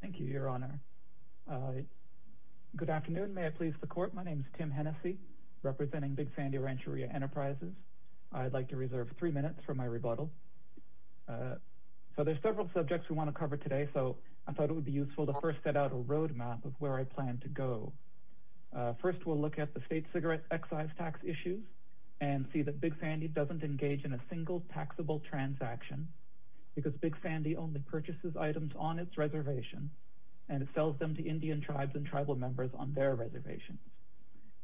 Thank you, Your Honor. Good afternoon. May I please the court? My name is Tim Hennessy representing Big Sandy Rancheria Enterprises. I'd like to reserve three minutes for my rebuttal. So there's several subjects we want to cover today. So I thought it would be useful to first set out a roadmap of where I plan to go. First. We'll look at the state cigarette excise tax issues and see that Big Sandy doesn't engage in a single taxable transaction because Big Sandy has a reservation and it sells them to Indian tribes and tribal members on their reservations.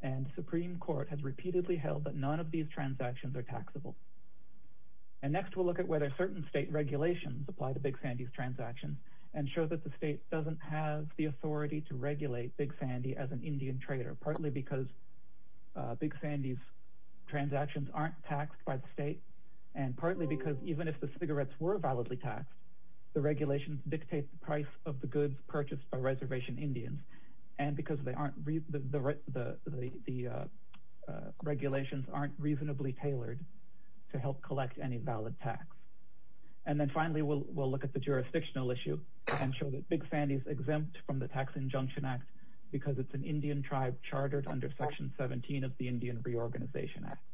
And Supreme Court has repeatedly held that none of these transactions are taxable. And next we'll look at whether certain state regulations apply to Big Sandy's transactions and show that the state doesn't have the authority to regulate Big Sandy as an Indian trader partly because Big Sandy's transactions aren't taxed by the state and partly because even if the of the goods purchased by reservation Indians and because they aren't read the regulations aren't reasonably tailored to help collect any valid tax. And then finally we'll look at the jurisdictional issue and show that Big Sandy's exempt from the Tax Injunction Act because it's an Indian tribe chartered under section 17 of the Indian Reorganization Act.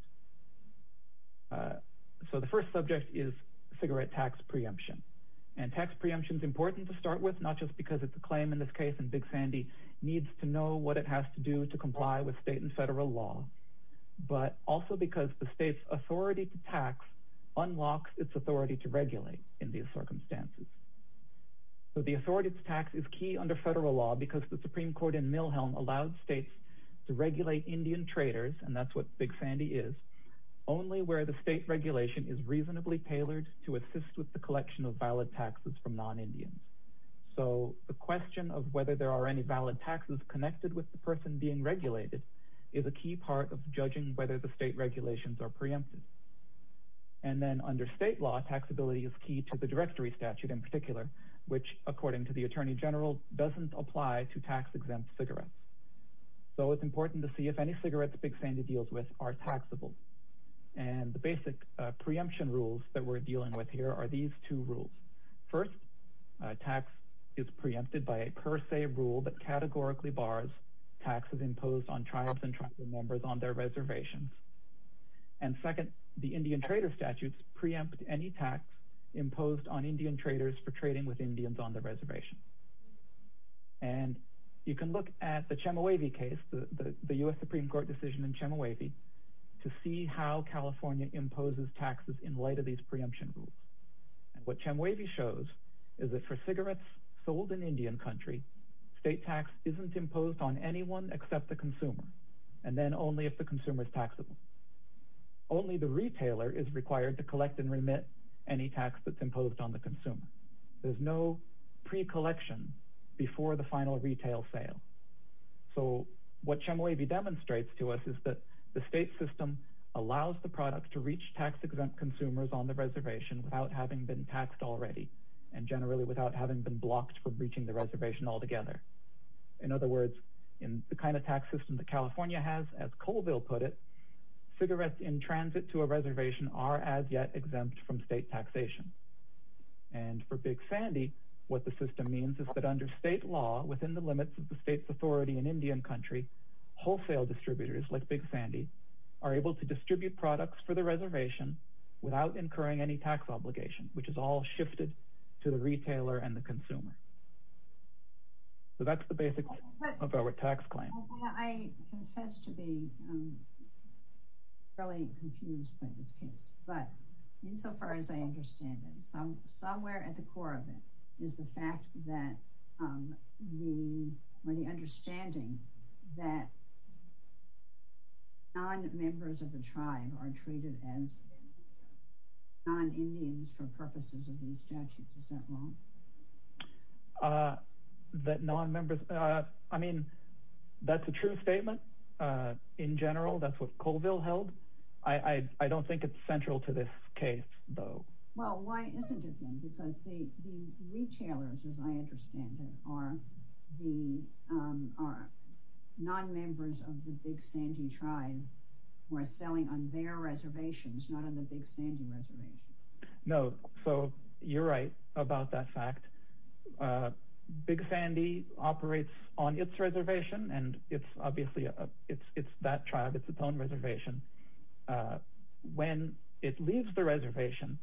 So the first subject is cigarette tax preemption and tax preemption is not just because it's a claim in this case and Big Sandy needs to know what it has to do to comply with state and federal law but also because the state's authority to tax unlocks its authority to regulate in these circumstances. So the authority to tax is key under federal law because the Supreme Court in Milhelm allowed states to regulate Indian traders and that's what Big Sandy is only where the state regulation is reasonably tailored to assist with the collection of valid taxes from non-Indians. So the question of whether there are any valid taxes connected with the person being regulated is a key part of judging whether the state regulations are preempted. And then under state law taxability is key to the directory statute in particular which according to the Attorney General doesn't apply to tax exempt cigarettes. So it's important to see if any cigarettes Big Sandy deals with are taxable and the basic preemption rules that we're dealing with here are these two rules. First tax is preempted by a per se rule that categorically bars taxes imposed on tribes and tribal members on their reservations. And second the Indian trader statutes preempt any tax imposed on Indian traders for trading with Indians on the reservation. And you can look at the Chemehuevi case the the US Supreme Court decision in Chemehuevi to see how California imposes taxes in light of these preemption rules. And what Chemehuevi shows is that for cigarettes sold in Indian country state tax isn't imposed on anyone except the consumer and then only if the consumer is taxable. Only the retailer is required to collect and remit any tax that's imposed on the consumer. There's no pre-collection before the final retail sale. So what Chemehuevi demonstrates to us is that the state system allows the product to reach tax exempt consumers on the reservation without having been taxed already and generally without having been blocked for breaching the reservation altogether. In other words in the kind of tax system that California has as Colville put it cigarettes in transit to a reservation are as yet exempt from state taxation. And for Big Sandy what the system means is that under state law within the limits of the state's authority in Indian country wholesale distributors like Big Sandy are able to distribute products for the reservation without incurring any tax obligation, which is all shifted to the retailer and the consumer. So that's the basics of our tax claim. I confess to be really confused by this case, but insofar as I understand it somewhere at the core of it is the fact that the understanding that non-members of the tribe are treated as non-Indians for purposes of these statutes. Is that wrong? That non-members, I mean, that's a true statement in general. That's what Colville held. I don't think it's central to this case though. Well, why isn't it then? Because the retailers as I understand it are the non-members of the Big Sandy reservation. No, so you're right about that fact. Big Sandy operates on its reservation and it's obviously it's that tribe. It's its own reservation. When it leaves the reservation,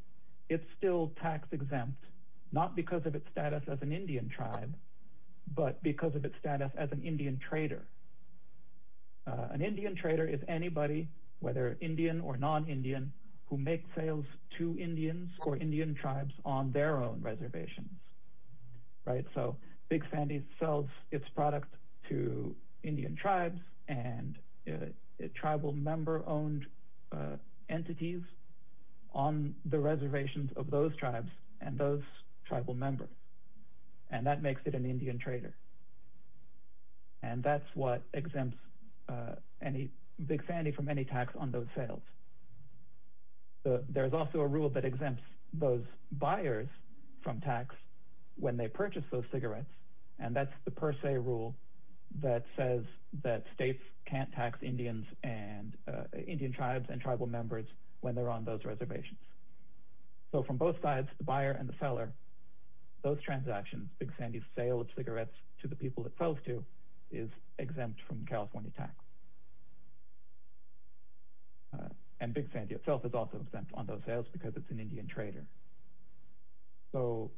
it's still tax-exempt not because of its status as an Indian tribe, but because of its status as an Indian trader. An Indian trader is anybody whether Indian or non-Indian who make sales to Indians or Indian tribes on their own reservations, right? So Big Sandy sells its product to Indian tribes and tribal member-owned entities on the reservations of those tribes and those tribal members and that makes it an Indian trader. And that's what exempts Big Sandy from any tax on those sales. There's also a rule that exempts those buyers from tax when they purchase those cigarettes and that's the per se rule that says that states can't tax Indians and Indian tribes and tribal members when they're on those reservations. So from both sides, the buyer and the seller, those transactions, Big Sandy's sale of cigarettes to the people it sells to is exempt from California tax. And Big Sandy itself is also exempt on those sales because it's an Indian trader. So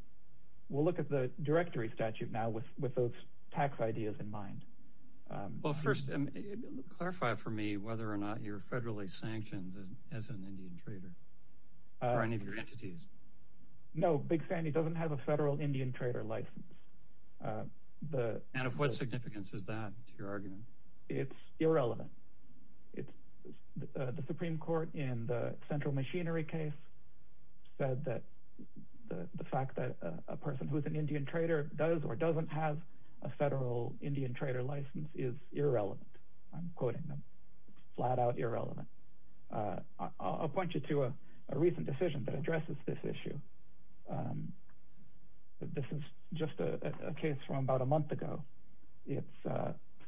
we'll look at the directory statute now with those tax ideas in mind. Well first, clarify for me whether or not you're federally sanctioned as an Indian trader or any of your entities. No, Big Sandy doesn't have a federal Indian trader license. And of what significance is that to your argument? It's irrelevant. The Supreme Court in the Central Machinery case said that the fact that a person who's an Indian trader does or doesn't have a federal Indian trader license is irrelevant. I'm quoting them. Flat-out irrelevant. I'll point you to a recent decision that addresses this issue. This is just a case from about a month ago. It's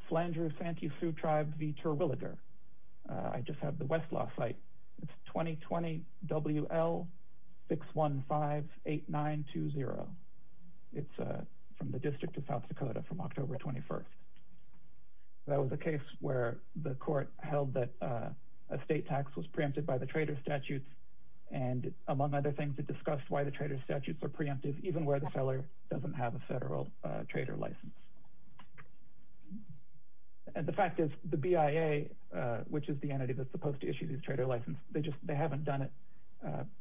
Flandreau-Santee Sioux Tribe v. Terwilliger. I just have the Westlaw site. It's 2020 WL6158920. It's from the District of South Dakota from October 21st. That was a case where the court held that a state tax was preempted by the And the fact is, the BIA, which is the entity that's supposed to issue this trader license, they haven't done it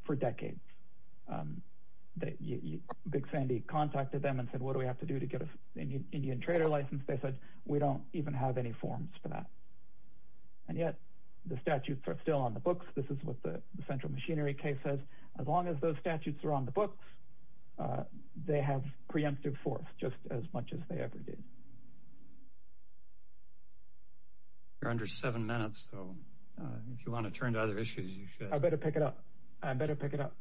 for decades. Big Sandy contacted them and said, what do we have to do to get an Indian trader license? They said, we don't even have any forms for that. And yet, the statutes are still on the books. This is what the Central Machinery case says. As long as those statutes are on the books, they have preemptive force, just as much as they ever did. You're under seven minutes, so if you want to turn to other issues, you should. I better pick it up. I better pick it up.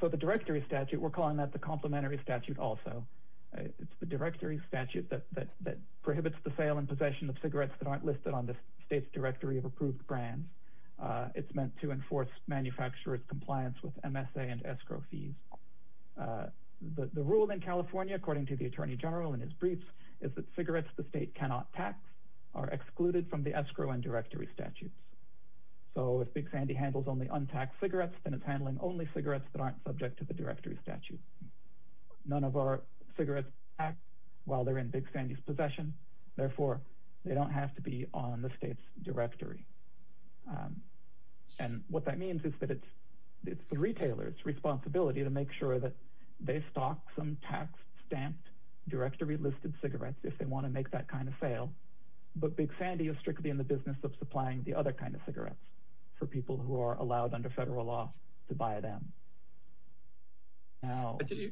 So the directory statute, we're calling that the complementary statute also. It's the directory statute that prohibits the sale and possession of cigarettes that aren't listed on the state's directory of approved brands. It's meant to enforce manufacturer's compliance with MSA and escrow fees. The rule in California, according to the Attorney General in his briefs, is that cigarettes the state cannot tax are excluded from the escrow and directory statutes. So if Big Sandy handles only untaxed cigarettes, then it's handling only cigarettes that aren't subject to the directory statute. None of our cigarettes act while they're in Big Sandy's possession. Therefore, they don't have to be on the state's directory. And what that means is that it's the retailer's responsibility to make sure that they stock some tax-stamped, directory-listed cigarettes if they want to make that kind of sale. But Big Sandy is strictly in the business of supplying the other kind of cigarettes for people who are allowed under federal law to buy them.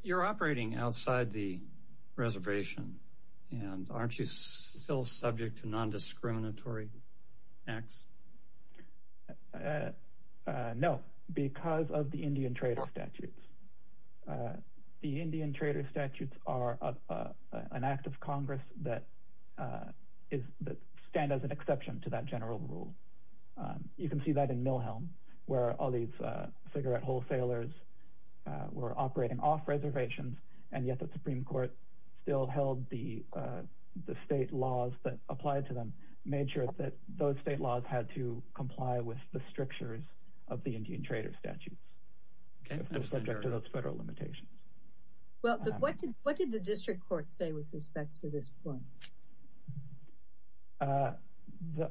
You're operating outside the reservation, and aren't you still subject to discriminatory acts? No, because of the Indian trader statutes. The Indian trader statutes are an act of Congress that stand as an exception to that general rule. You can see that in Mill Helm, where all these cigarette wholesalers were operating off reservations, and yet the Supreme Court still held the state laws that applied to them, made sure that those state laws had to comply with the strictures of the Indian trader statutes, subject to those federal limitations. Well, what did the district court say with respect to this point?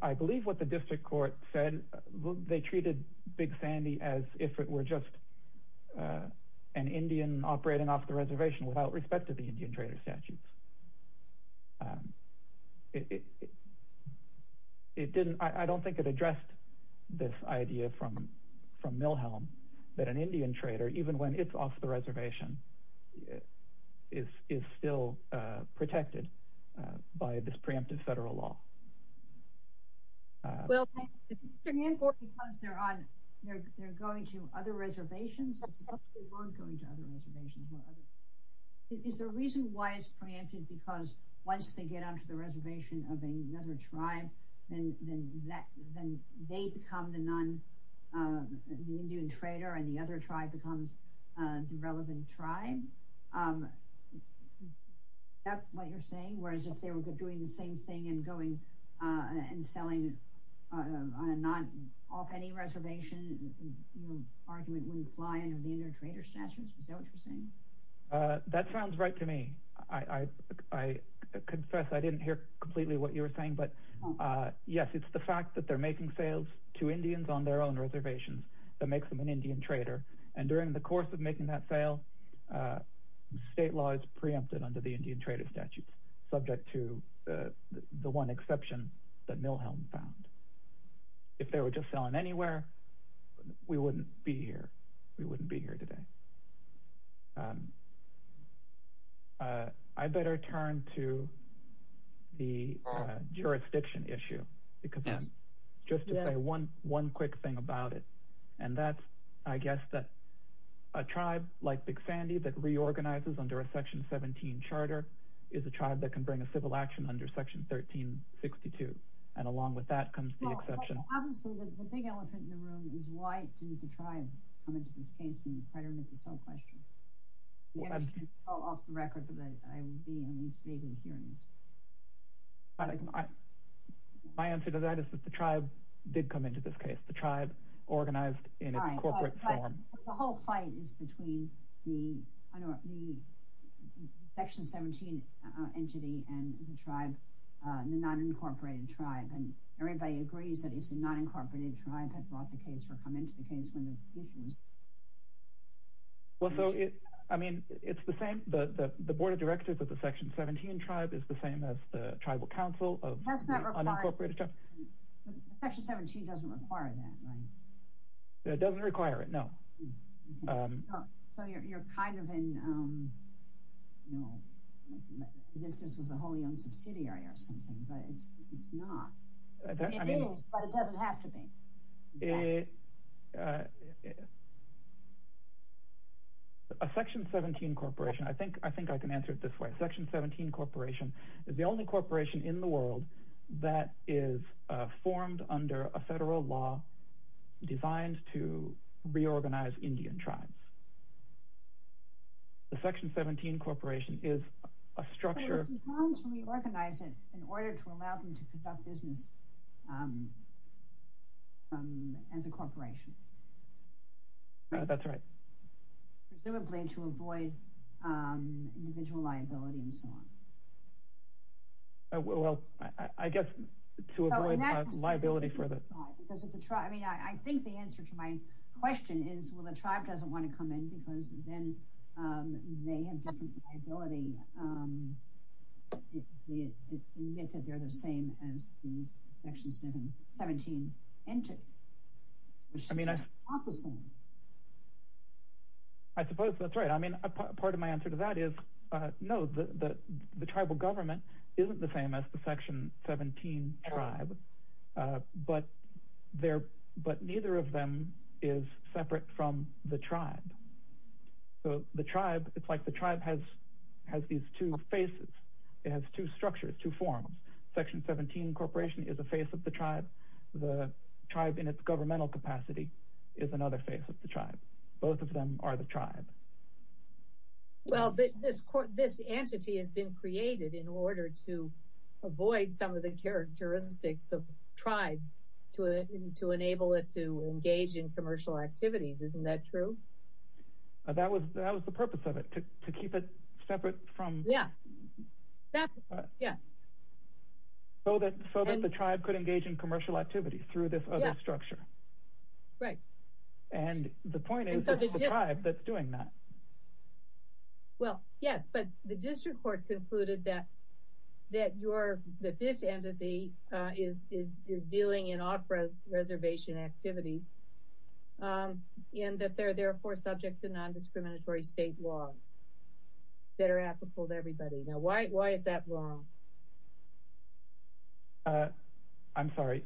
I believe what the district court said, they treated Big Sandy as if it were just an Indian operating off the reservation without respect to the Indian trader statutes. I don't think it addressed this idea from Mill Helm that an Indian trader, even when it's off the reservation, is still protected by this preemptive federal law. Well, is the district court because they're going to other reservations? Is the reason why it's preempted because once they get onto the reservation of another tribe, then they become the Indian trader and the other tribe becomes the relevant tribe? Is that what you're saying? Whereas if they were doing the same thing and going and selling off any reservation, your argument wouldn't fly under the Indian trader statutes? Is that what you're saying? That sounds right to me. I confess I didn't hear completely what you were saying, but yes, it's the fact that they're making sales to Indians on their own reservations that makes them an Indian trader. And during the course of making that sale, state law is preempted under the Indian trader statutes, subject to the one exception that Mill Helm found. If they were just selling anywhere, we wouldn't be here. We wouldn't be here today. I better turn to the jurisdiction issue because just to say one quick thing about it, and that's, I guess, that a tribe like Big Sandy that reorganizes under a section 17 charter is a tribe that can bring a civil action under section 1362. And along with that comes the exception. Obviously, the big elephant in the room is why didn't the tribe come into this case and try to remit the sale question? I'm sure it fell off the record, but I would be at least vaguely curious. My answer to that is that the tribe did come into this case. The tribe organized in a corporate form. The whole fight is between the section 17 entity and the tribe, the non-incorporated tribe. And everybody agrees that it's a non-incorporated tribe that brought the case or come into the case when the issue was raised. Well, so, I mean, it's the same. The board of directors of the section 17 tribe is the same as the tribal council of the unincorporated tribe. Section 17 doesn't require that, right? It doesn't require it, no. So you're kind of in, you know, as if this was a wholly owned subsidiary or something, but it's not. It is, but it doesn't have to be. A section 17 corporation, I think I can answer it this way. Section 17 corporation is the only corporation in the world that is formed under a federal law designed to reorganize Indian tribes. The section 17 corporation is a structure. It's designed to reorganize it in order to allow them to conduct business as a corporation. That's right. Presumably to avoid individual liability and so on. Well, I guess to avoid liability for the tribe, I mean, I think the answer to my question is, well, the tribe doesn't want to come in because then they have different liability if they admit that they're the same as the section 17 entity. I mean, I suppose that's right. I mean, part of my answer to that is, no, the tribal government isn't the same as the section 17 tribe, but neither of them is separate from the tribe. So the tribe, it's like the tribe has these two faces. It has two structures, two forms. Section 17 corporation is a face of the tribe. The tribe in its governmental capacity is another face of the tribe. Both of them are the tribe. Well, this entity has been created in order to avoid some of the characteristics of tribes to enable it to engage in commercial activities. Isn't that true? That was the purpose of it, to keep it separate from. Yeah, yeah. So that the tribe could engage in commercial activities through this other structure. Right. And the point is, it's the tribe that's doing that. Well, yes, but the district court concluded that this entity is dealing in off-reservation activities and that they're therefore subject to nondiscriminatory state laws that are applicable to everybody. Now, why is that wrong? I'm sorry.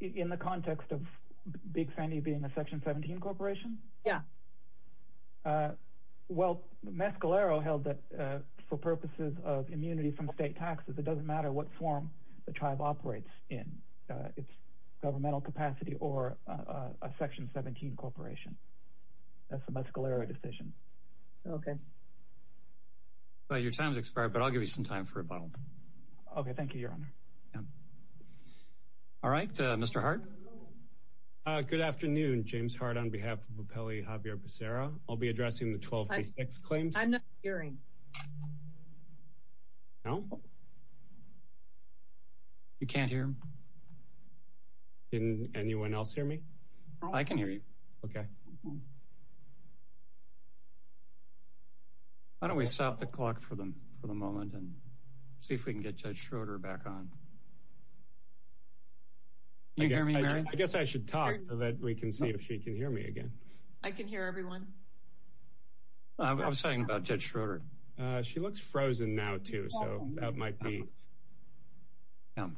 In the context of Big Sandy being a Section 17 corporation? Yeah. Well, Mescalero held that for purposes of immunity from state taxes, it doesn't matter what form the tribe operates in. It's governmental capacity or a Section 17 corporation. That's a Mescalero decision. Okay. Well, your time's expired, but I'll give you some time for rebuttal. Okay, thank you, Your Honor. All right, Mr. Hart? Good afternoon, James Hart on behalf of Appellee Javier Becerra. I'll be addressing the 1286 claims. I'm not hearing. No? You can't hear him? Didn't anyone else hear me? I can hear you. Okay. Why don't we stop the clock for the moment and see if we can get Judge Schroeder back on? Can you hear me, Mary? I guess I should talk so that we can see if she can hear me again. I can hear everyone. I was talking about Judge Schroeder. She looks frozen now, too, so that might be. Yeah.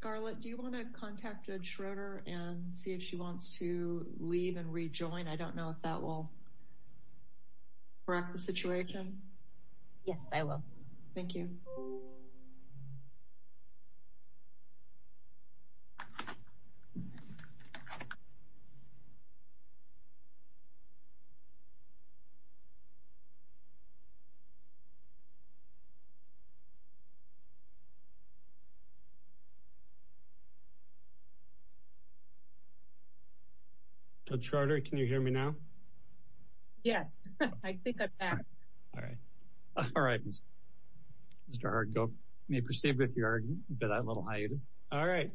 Scarlett, do you want to contact Judge Schroeder and see if she wants to leave and rejoin? I don't know if that will correct the situation. Yes, I will. Thank you. Judge Schroeder, can you hear me now? Yes. I think I'm back. All right. All right, Mr. Hart. You may proceed with your little hiatus. All right.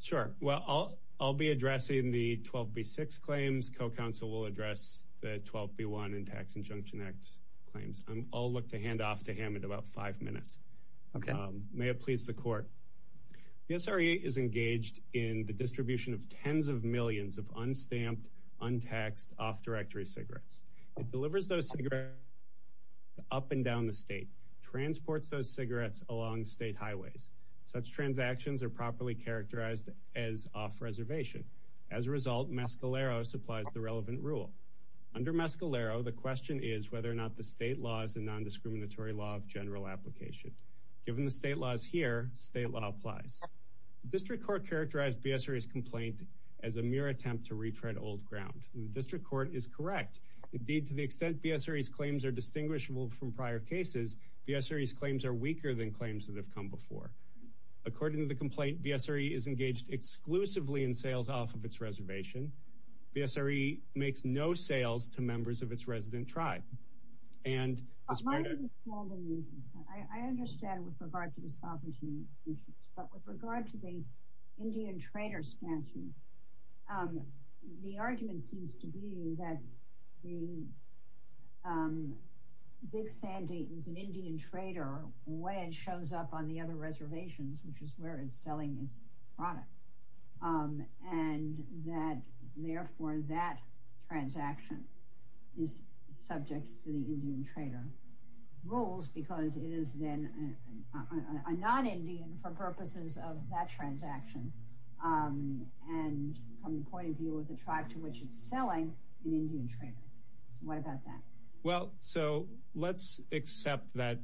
Sure. Well, I'll be addressing the 12B6 claims. Co-counsel will address the 12B1 and Tax Injunction Act claims. I'll look to hand off to him in about five minutes. Okay. May it please the Court. The SRE is engaged in the distribution of tens of millions of unstamped, untaxed, off-directory cigarettes. It delivers those cigarettes up and down the state, transports those cigarettes along state highways. Such transactions are properly characterized as off-reservation. As a result, Mescalero supplies the relevant rule. Under Mescalero, the question is whether or not the state law is a nondiscriminatory law of general application. Given the state laws here, state law applies. District Court characterized BSRE's complaint as a mere attempt to retread old ground. The District Court is correct. Indeed, to the extent BSRE's claims are distinguishable from prior cases, BSRE's claims are weaker than claims that have come before. According to the complaint, BSRE is engaged exclusively in sales off of its reservation. BSRE makes no sales to members of its resident tribe. And— My understanding is, I understand with regard to the sovereignty issues, but with regard to the Indian trader statutes, the argument seems to be that the Big Sandy is an Indian trader when it shows up on the other reservations, which is where it's selling its product. And that, therefore, that transaction is subject to the Indian trader rules because it is then a non-Indian for purposes of that transaction. And from the point of view of the tribe to which it's selling, an Indian trader. So what about that? Well, so let's accept that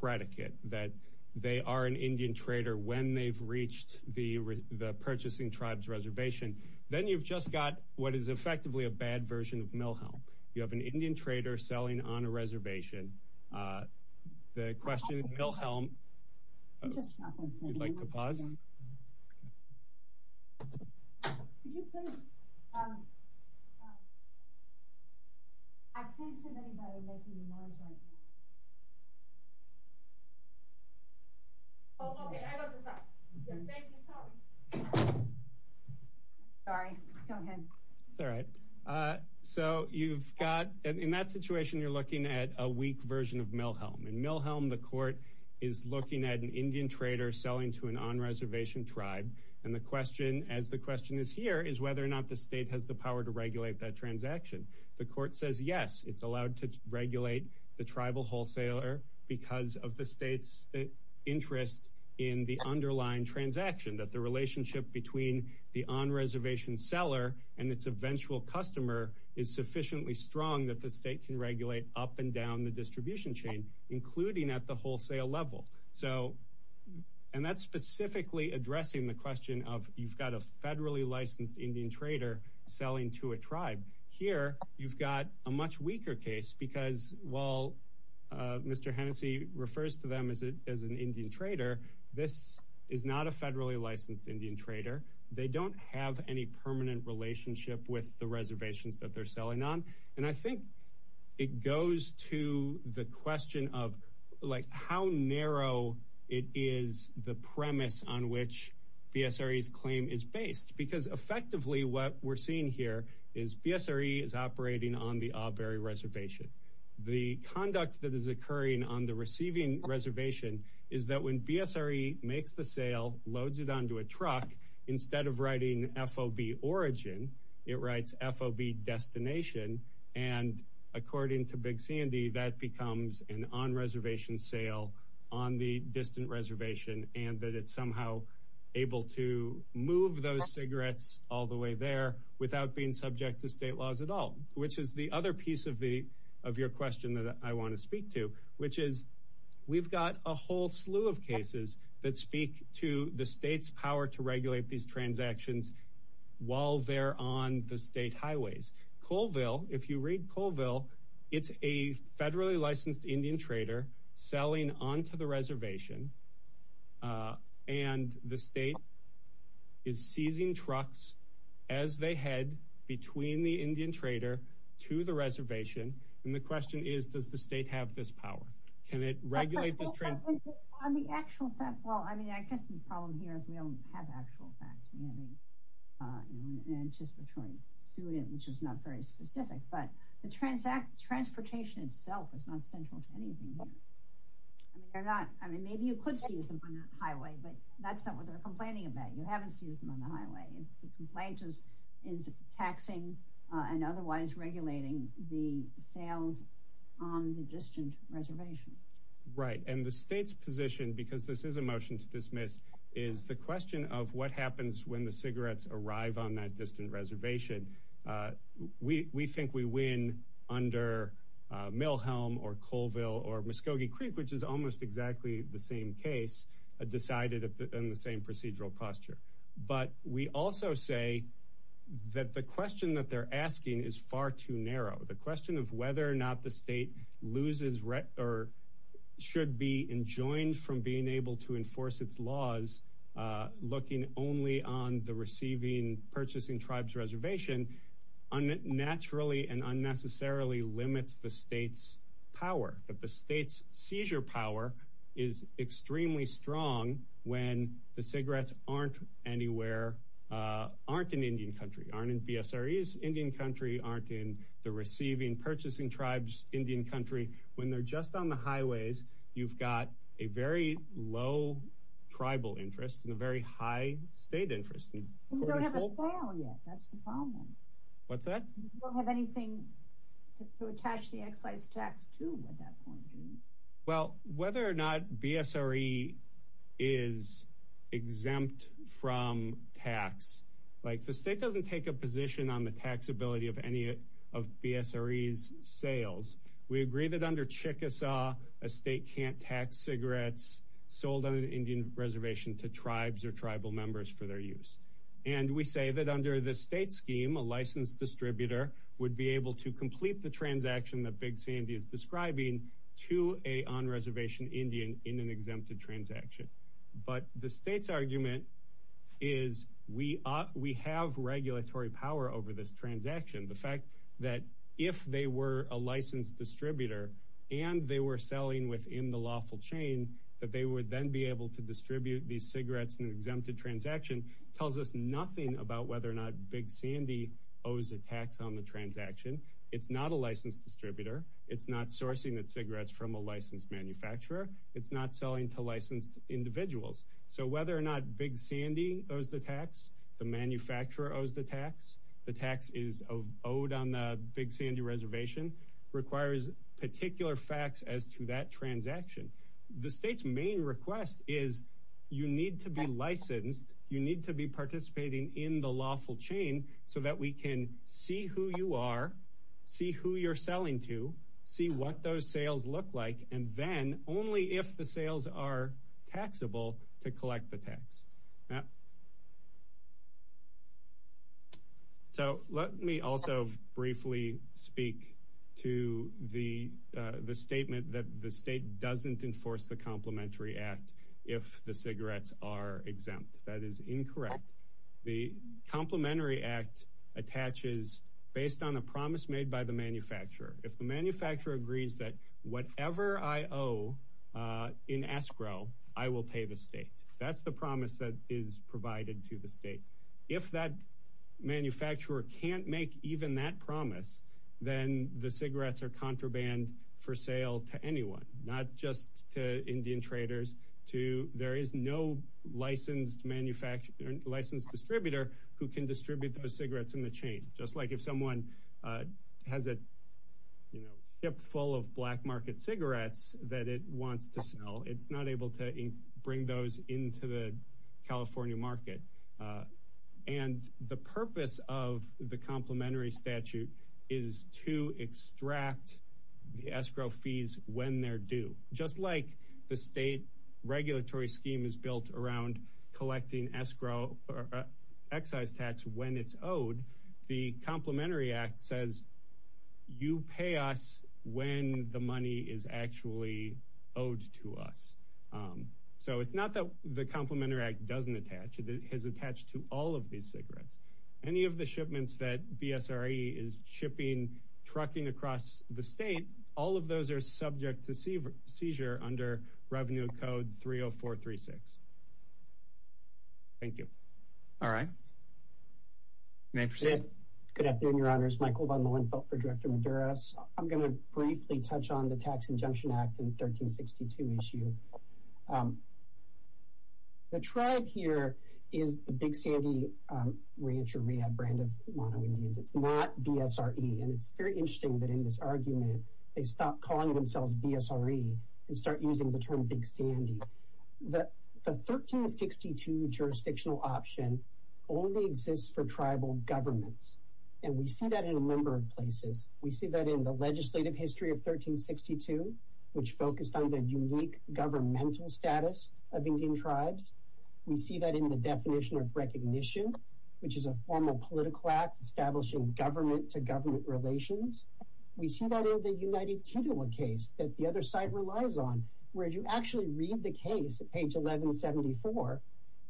predicate, that they are an Indian trader when they've reached the purchasing tribe's reservation. Then you've just got what is effectively a bad version of Milhelm. You have an Indian trader selling on a reservation. The question of Milhelm— I'm just not going to say anything. You'd like to pause? Yeah. Could you please— I can't see anybody making remarks right now. Oh, okay. I got this up. Thank you. Sorry. Sorry. Go ahead. It's all right. So you've got— In that situation, you're looking at a weak version of Milhelm. In Milhelm, the court is looking at an Indian trader selling to an on-reservation tribe. And the question, as the question is here, is whether or not the state has the power to regulate that transaction. The court says, yes, it's allowed to regulate the tribal wholesaler because of the state's interest in the underlying transaction, that the relationship between the on-reservation seller and its eventual customer is sufficiently strong that the state can regulate up and down the distribution chain, including at the wholesale level. So—and that's specifically addressing the question of, you've got a federally licensed Indian trader selling to a tribe. Here, you've got a much weaker case because while Mr. Hennessey refers to them as an Indian trader, this is not a federally licensed Indian trader. They don't have any permanent relationship with the reservations that they're selling on. And I think it goes to the question of, like, how narrow it is, the premise on which BSRE's claim is based. Because effectively, what we're seeing here is BSRE is operating on the Aubury Reservation. The conduct that is occurring on the receiving reservation is that when BSRE makes the sale, loads it onto a truck, instead of writing FOB origin, it writes FOB destination. And according to Big Sandy, that becomes an on-reservation sale on the distant reservation and that it's somehow able to move those cigarettes all the way there without being subject to state laws at all, which is the other piece of your question that I want to speak to, which is, we've got a whole slew of cases that speak to the state's power to regulate these transactions while they're on the state highways. Colville, if you read Colville, it's a federally licensed Indian trader selling onto the reservation, and the state is seizing trucks as they head between the Indian trader to the reservation. And the question is, does the state have this power? Can it regulate this transaction? On the actual fact, well, I mean, I guess the problem here is we don't have actual facts. We have an anticipatory student, which is not very specific, but the transportation itself is not central to anything here. I mean, they're not. I mean, maybe you could seize them on the highway, but that's not what they're complaining about. You haven't seized them on the highway. The complaint is taxing and otherwise regulating the sales on the distant reservation. Right, and the state's position, because this is a motion to dismiss, is the question of what happens when the cigarettes arrive on that distant reservation. We think we win under Mill Helm or Colville or Muskogee Creek, which is almost exactly the same case decided in the same procedural posture. But we also say that the question that they're asking is far too narrow. The question of whether or not the state loses or should be enjoined from being able to enforce its laws, looking only on the receiving, purchasing tribes reservation, naturally and unnecessarily limits the state's power, that the state's seizure power is extremely strong when the cigarettes aren't anywhere, aren't in Indian country, aren't in BSRE's Indian country, aren't in the receiving, purchasing tribes Indian country. When they're just on the highways, you've got a very low tribal interest and a very high state interest. We don't have a sale yet. That's the problem. What's that? We don't have anything to attach the excise tax to at that point. Well, whether or not BSRE is exempt from tax, like the state doesn't take a position on the taxability of any of BSRE's sales. We agree that under Chickasaw, a state can't tax cigarettes sold on Indian reservation to tribes or tribal members for their use. And we say that under the state scheme, a licensed distributor would be able to complete the transaction that Big Sandy is describing to a on-reservation Indian in an exempted transaction. But the state's argument is we have regulatory power over this transaction. The fact that if they were a licensed distributor and they were selling within the lawful chain, that they would then be able to distribute these cigarettes in an exempted transaction, tells us nothing about whether or not Big Sandy owes a tax on the transaction. It's not a licensed distributor. It's not sourcing its cigarettes from a licensed manufacturer. It's not selling to licensed individuals. So whether or not Big Sandy owes the tax, the manufacturer owes the tax, the tax is owed on the Big Sandy reservation, requires particular facts as to that transaction. The state's main request is you need to be licensed, you need to be participating in the lawful chain, so that we can see who you are, see who you're selling to, see what those sales look like, and then, only if the sales are taxable, to collect the tax. So let me also briefly speak to the statement that the state doesn't enforce the Complementary Act if the cigarettes are exempt. That is incorrect. The Complementary Act attaches based on a promise made by the manufacturer. If the manufacturer agrees that whatever I owe in escrow, I will pay the state. That's the promise that is provided to the state. If that manufacturer can't make even that promise, then the cigarettes are contraband for sale to anyone, not just to Indian traders. There is no licensed distributor who can distribute those cigarettes in the chain. Just like if someone has a ship full of black market cigarettes that it wants to sell, it's not able to bring those into the California market. And the purpose of the Complementary Statute is to extract the escrow fees when they're due. Just like the state regulatory scheme is built around collecting excise tax when it's owed, the Complementary Act says, you pay us when the money is actually owed to us. So it's not that the Complementary Act doesn't attach. It has attached to all of these cigarettes. Any of the shipments that BSRE is shipping, trucking across the state, all of those are subject to seizure under Revenue Code 30436. Thank you. All right. You may proceed. Good afternoon, Your Honors. Michael von Lohenfeldt for Director Medeiros. I'm going to briefly touch on the Tax Injunction Act in 1362 issue. The tribe here is the Big Sandy Rancheria brand of Mono-Indians. It's not BSRE. And it's very interesting that in this argument they stop calling themselves BSRE and start using the term Big Sandy. The 1362 jurisdictional option only exists for tribal governments. And we see that in a number of places. We see that in the legislative history of 1362, which focused on the unique governmental status of Indian tribes. We see that in the definition of recognition, which is a formal political act establishing government-to-government relations. We see that in the United Kituwa case that the other side relies on, where you actually read the case at page 1174.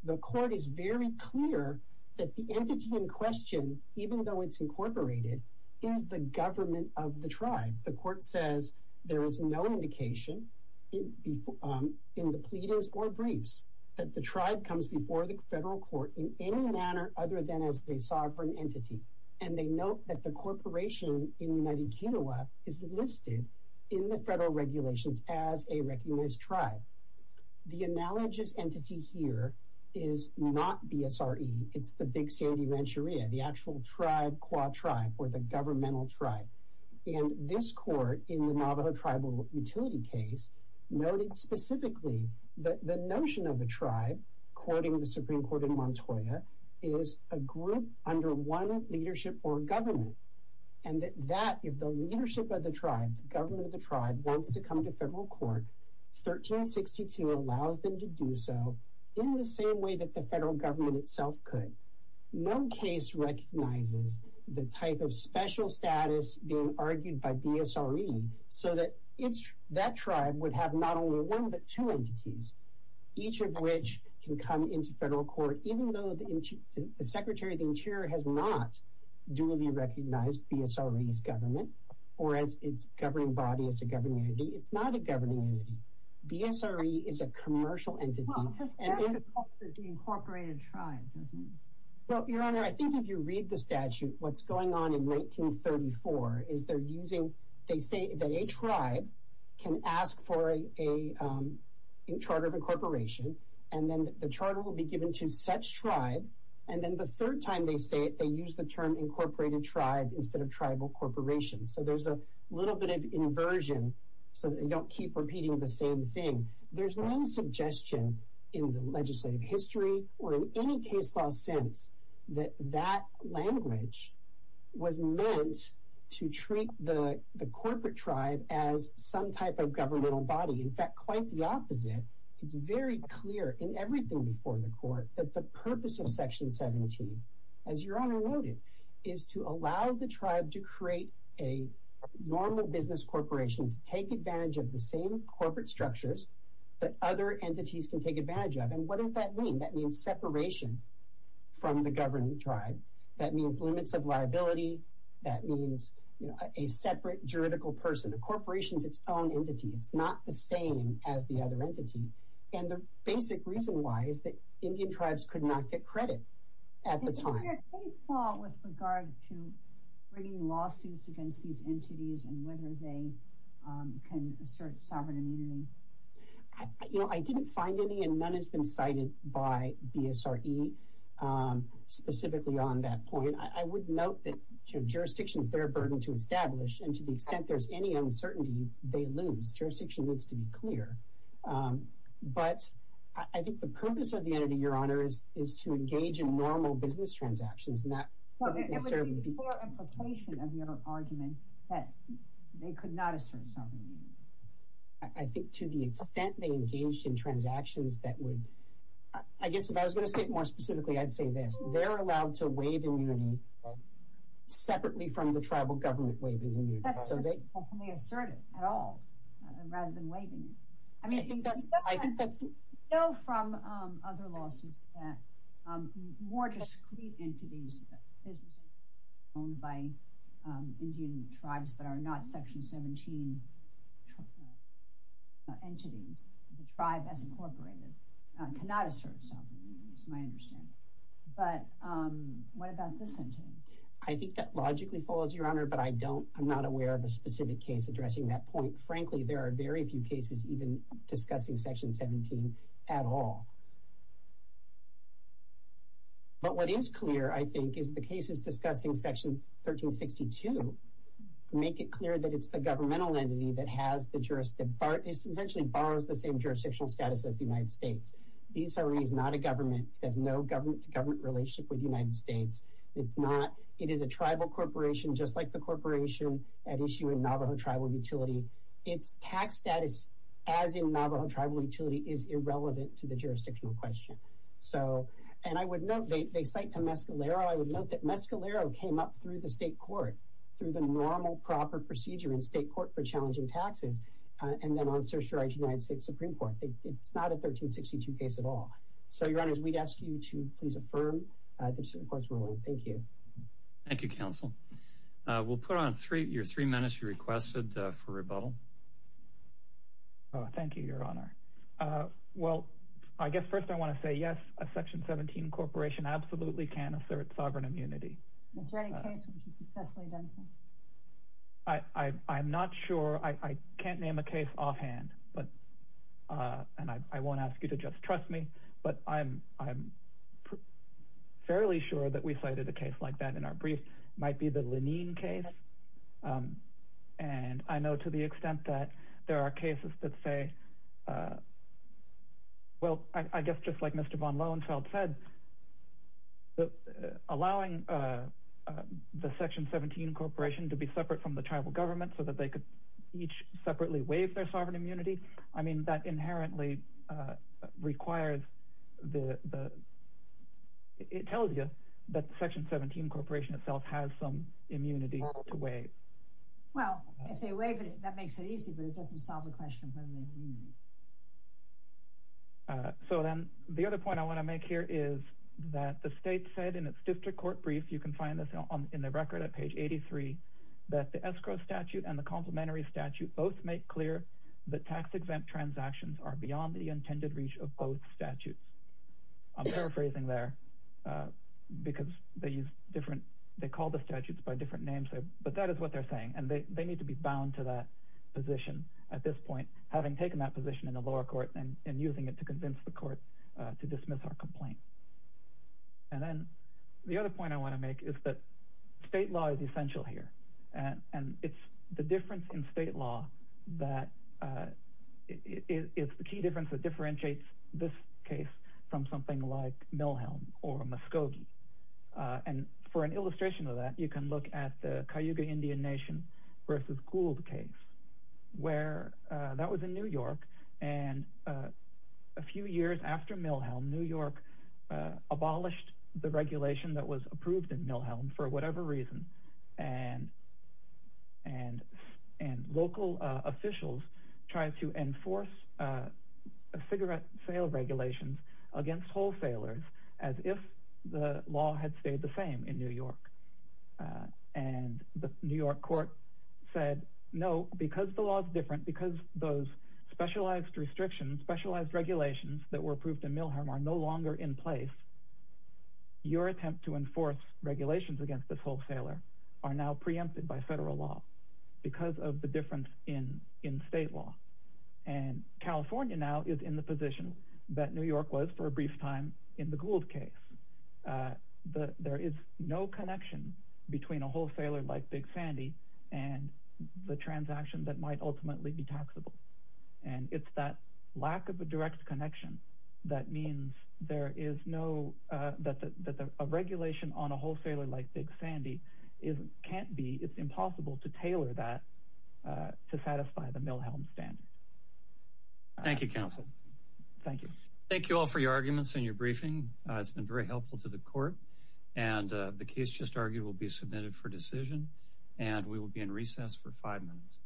The court is very clear that the entity in question, even though it's incorporated, is the government of the tribe. The court says there is no indication in the pleadings or briefs that the tribe comes before the federal court in any manner other than as the sovereign entity. And they note that the corporation in United Kituwa is listed in the federal regulations as a recognized tribe. The analogous entity here is not BSRE. It's the Big Sandy Rancheria, the actual tribe, qua tribe, or the governmental tribe. And this court in the Navajo Tribal Utility case noted specifically that the notion of a tribe, quoting the Supreme Court in Montoya, is a group under one leadership or government. And that if the leadership of the tribe, the government of the tribe, wants to come to federal court, 1362 allows them to do so in the same way that the federal government itself could. No case recognizes the type of special status being argued by BSRE so that that tribe would have not only one but two entities, each of which can come into federal court, but even though the Secretary of the Interior has not duly recognized BSRE's government or as its governing body, as a governing entity, it's not a governing entity. BSRE is a commercial entity. Well, the statute calls it the incorporated tribe, doesn't it? Well, Your Honor, I think if you read the statute, what's going on in 1934 is they're using, they say that a tribe can ask for a charter of incorporation, and then the charter will be given to such tribe, and then the third time they say it, they use the term incorporated tribe instead of tribal corporation. So there's a little bit of inversion so that they don't keep repeating the same thing. There's no suggestion in the legislative history or in any case law since that that language was meant to treat the corporate tribe as some type of governmental body. In fact, quite the opposite. It's very clear in everything before the court that the purpose of Section 17, as Your Honor noted, is to allow the tribe to create a normal business corporation to take advantage of the same corporate structures that other entities can take advantage of. And what does that mean? That means separation from the governing tribe. That means limits of liability. That means a separate juridical person. A corporation is its own entity. It's not the same as the other entity. And the basic reason why is that Indian tribes could not get credit at the time. Did you hear case law with regard to bringing lawsuits against these entities and whether they can assert sovereign immunity? I didn't find any, and none has been cited by BSRE specifically on that point. I would note that jurisdiction is their burden to establish, and to the extent there's any uncertainty, they lose. Jurisdiction needs to be clear. But I think the purpose of the entity, Your Honor, is to engage in normal business transactions. It would be poor implication of your argument that they could not assert sovereign immunity. I think to the extent they engaged in transactions that would— I guess if I was going to say it more specifically, I'd say this. They're allowed to waive immunity separately from the tribal government waiving immunity. So they— They assert it at all rather than waiving it. I mean— I think that's— I know from other lawsuits that more discreet entities owned by Indian tribes that are not Section 17 entities, the tribe as incorporated, cannot assert sovereign immunity. That's my understanding. But what about this entity? I think that logically follows, Your Honor, but I don't— I'm not aware of a specific case addressing that point. Frankly, there are very few cases even discussing Section 17 at all. But what is clear, I think, is the cases discussing Section 1362 make it clear that it's the governmental entity that has the jurisdiction— essentially borrows the same jurisdictional status as the United States. BCRE is not a government. It has no government-to-government relationship with the United States. It's not— It is a tribal corporation just like the corporation at issue in Navajo Tribal Utility. Its tax status as in Navajo Tribal Utility is irrelevant to the jurisdictional question. So— And I would note— They cite to Mescalero. I would note that Mescalero came up through the state court, through the normal proper procedure in state court for challenging taxes, and then on certiorari to the United States Supreme Court. It's not a 1362 case at all. So, Your Honors, we'd ask you to please affirm the Supreme Court's ruling. Thank you. Thank you, Counsel. We'll put on your three minutes you requested for rebuttal. Thank you, Your Honor. Well, I guess first I want to say yes, a Section 17 corporation absolutely can assert sovereign immunity. Is there any case which has successfully done so? I'm not sure. I can't name a case offhand. And I won't ask you to just trust me, but I'm fairly sure that we cited a case like that in our brief. It might be the Lenine case. And I know to the extent that there are cases that say— Well, I guess just like Mr. von Lohenfeld said, allowing the Section 17 corporation to be separate from the tribal government so that they could each separately waive their sovereign immunity, I mean, that inherently requires the— it tells you that the Section 17 corporation itself has some immunity to waive. Well, if they waive it, that makes it easy, but it doesn't solve the question of whether they have immunity. So then the other point I want to make here is that the state said in its district court brief—you can find this in the record at page 83— that the statute and the complementary statute both make clear that tax-exempt transactions are beyond the intended reach of both statutes. I'm paraphrasing there because they use different— they call the statutes by different names there, but that is what they're saying, and they need to be bound to that position at this point, having taken that position in the lower court and using it to convince the court to dismiss our complaint. And then the other point I want to make is that state law is essential here, and it's the difference in state law that— it's the key difference that differentiates this case from something like Milhelm or Muskogee. And for an illustration of that, you can look at the Cayuga Indian Nation versus Gould case, where that was in New York, and a few years after Milhelm, New York abolished the regulation that was approved in Milhelm for whatever reason, and local officials tried to enforce cigarette sale regulations against wholesalers as if the law had stayed the same in New York. And the New York court said, no, because the law is different, because those specialized restrictions, specialized regulations that were approved in Milhelm are no longer in place, your attempt to enforce regulations against this wholesaler are now preempted by federal law because of the difference in state law. And California now is in the position that New York was for a brief time in the Gould case. There is no connection between a wholesaler like Big Sandy and the transaction that might ultimately be taxable. And it's that lack of a direct connection that means that a regulation on a wholesaler like Big Sandy can't be, it's impossible to tailor that to satisfy the Milhelm standard. Thank you, counsel. Thank you. Thank you all for your arguments and your briefing. It's been very helpful to the court. And the case just argued will be submitted for decision, and we will be in recess for five minutes.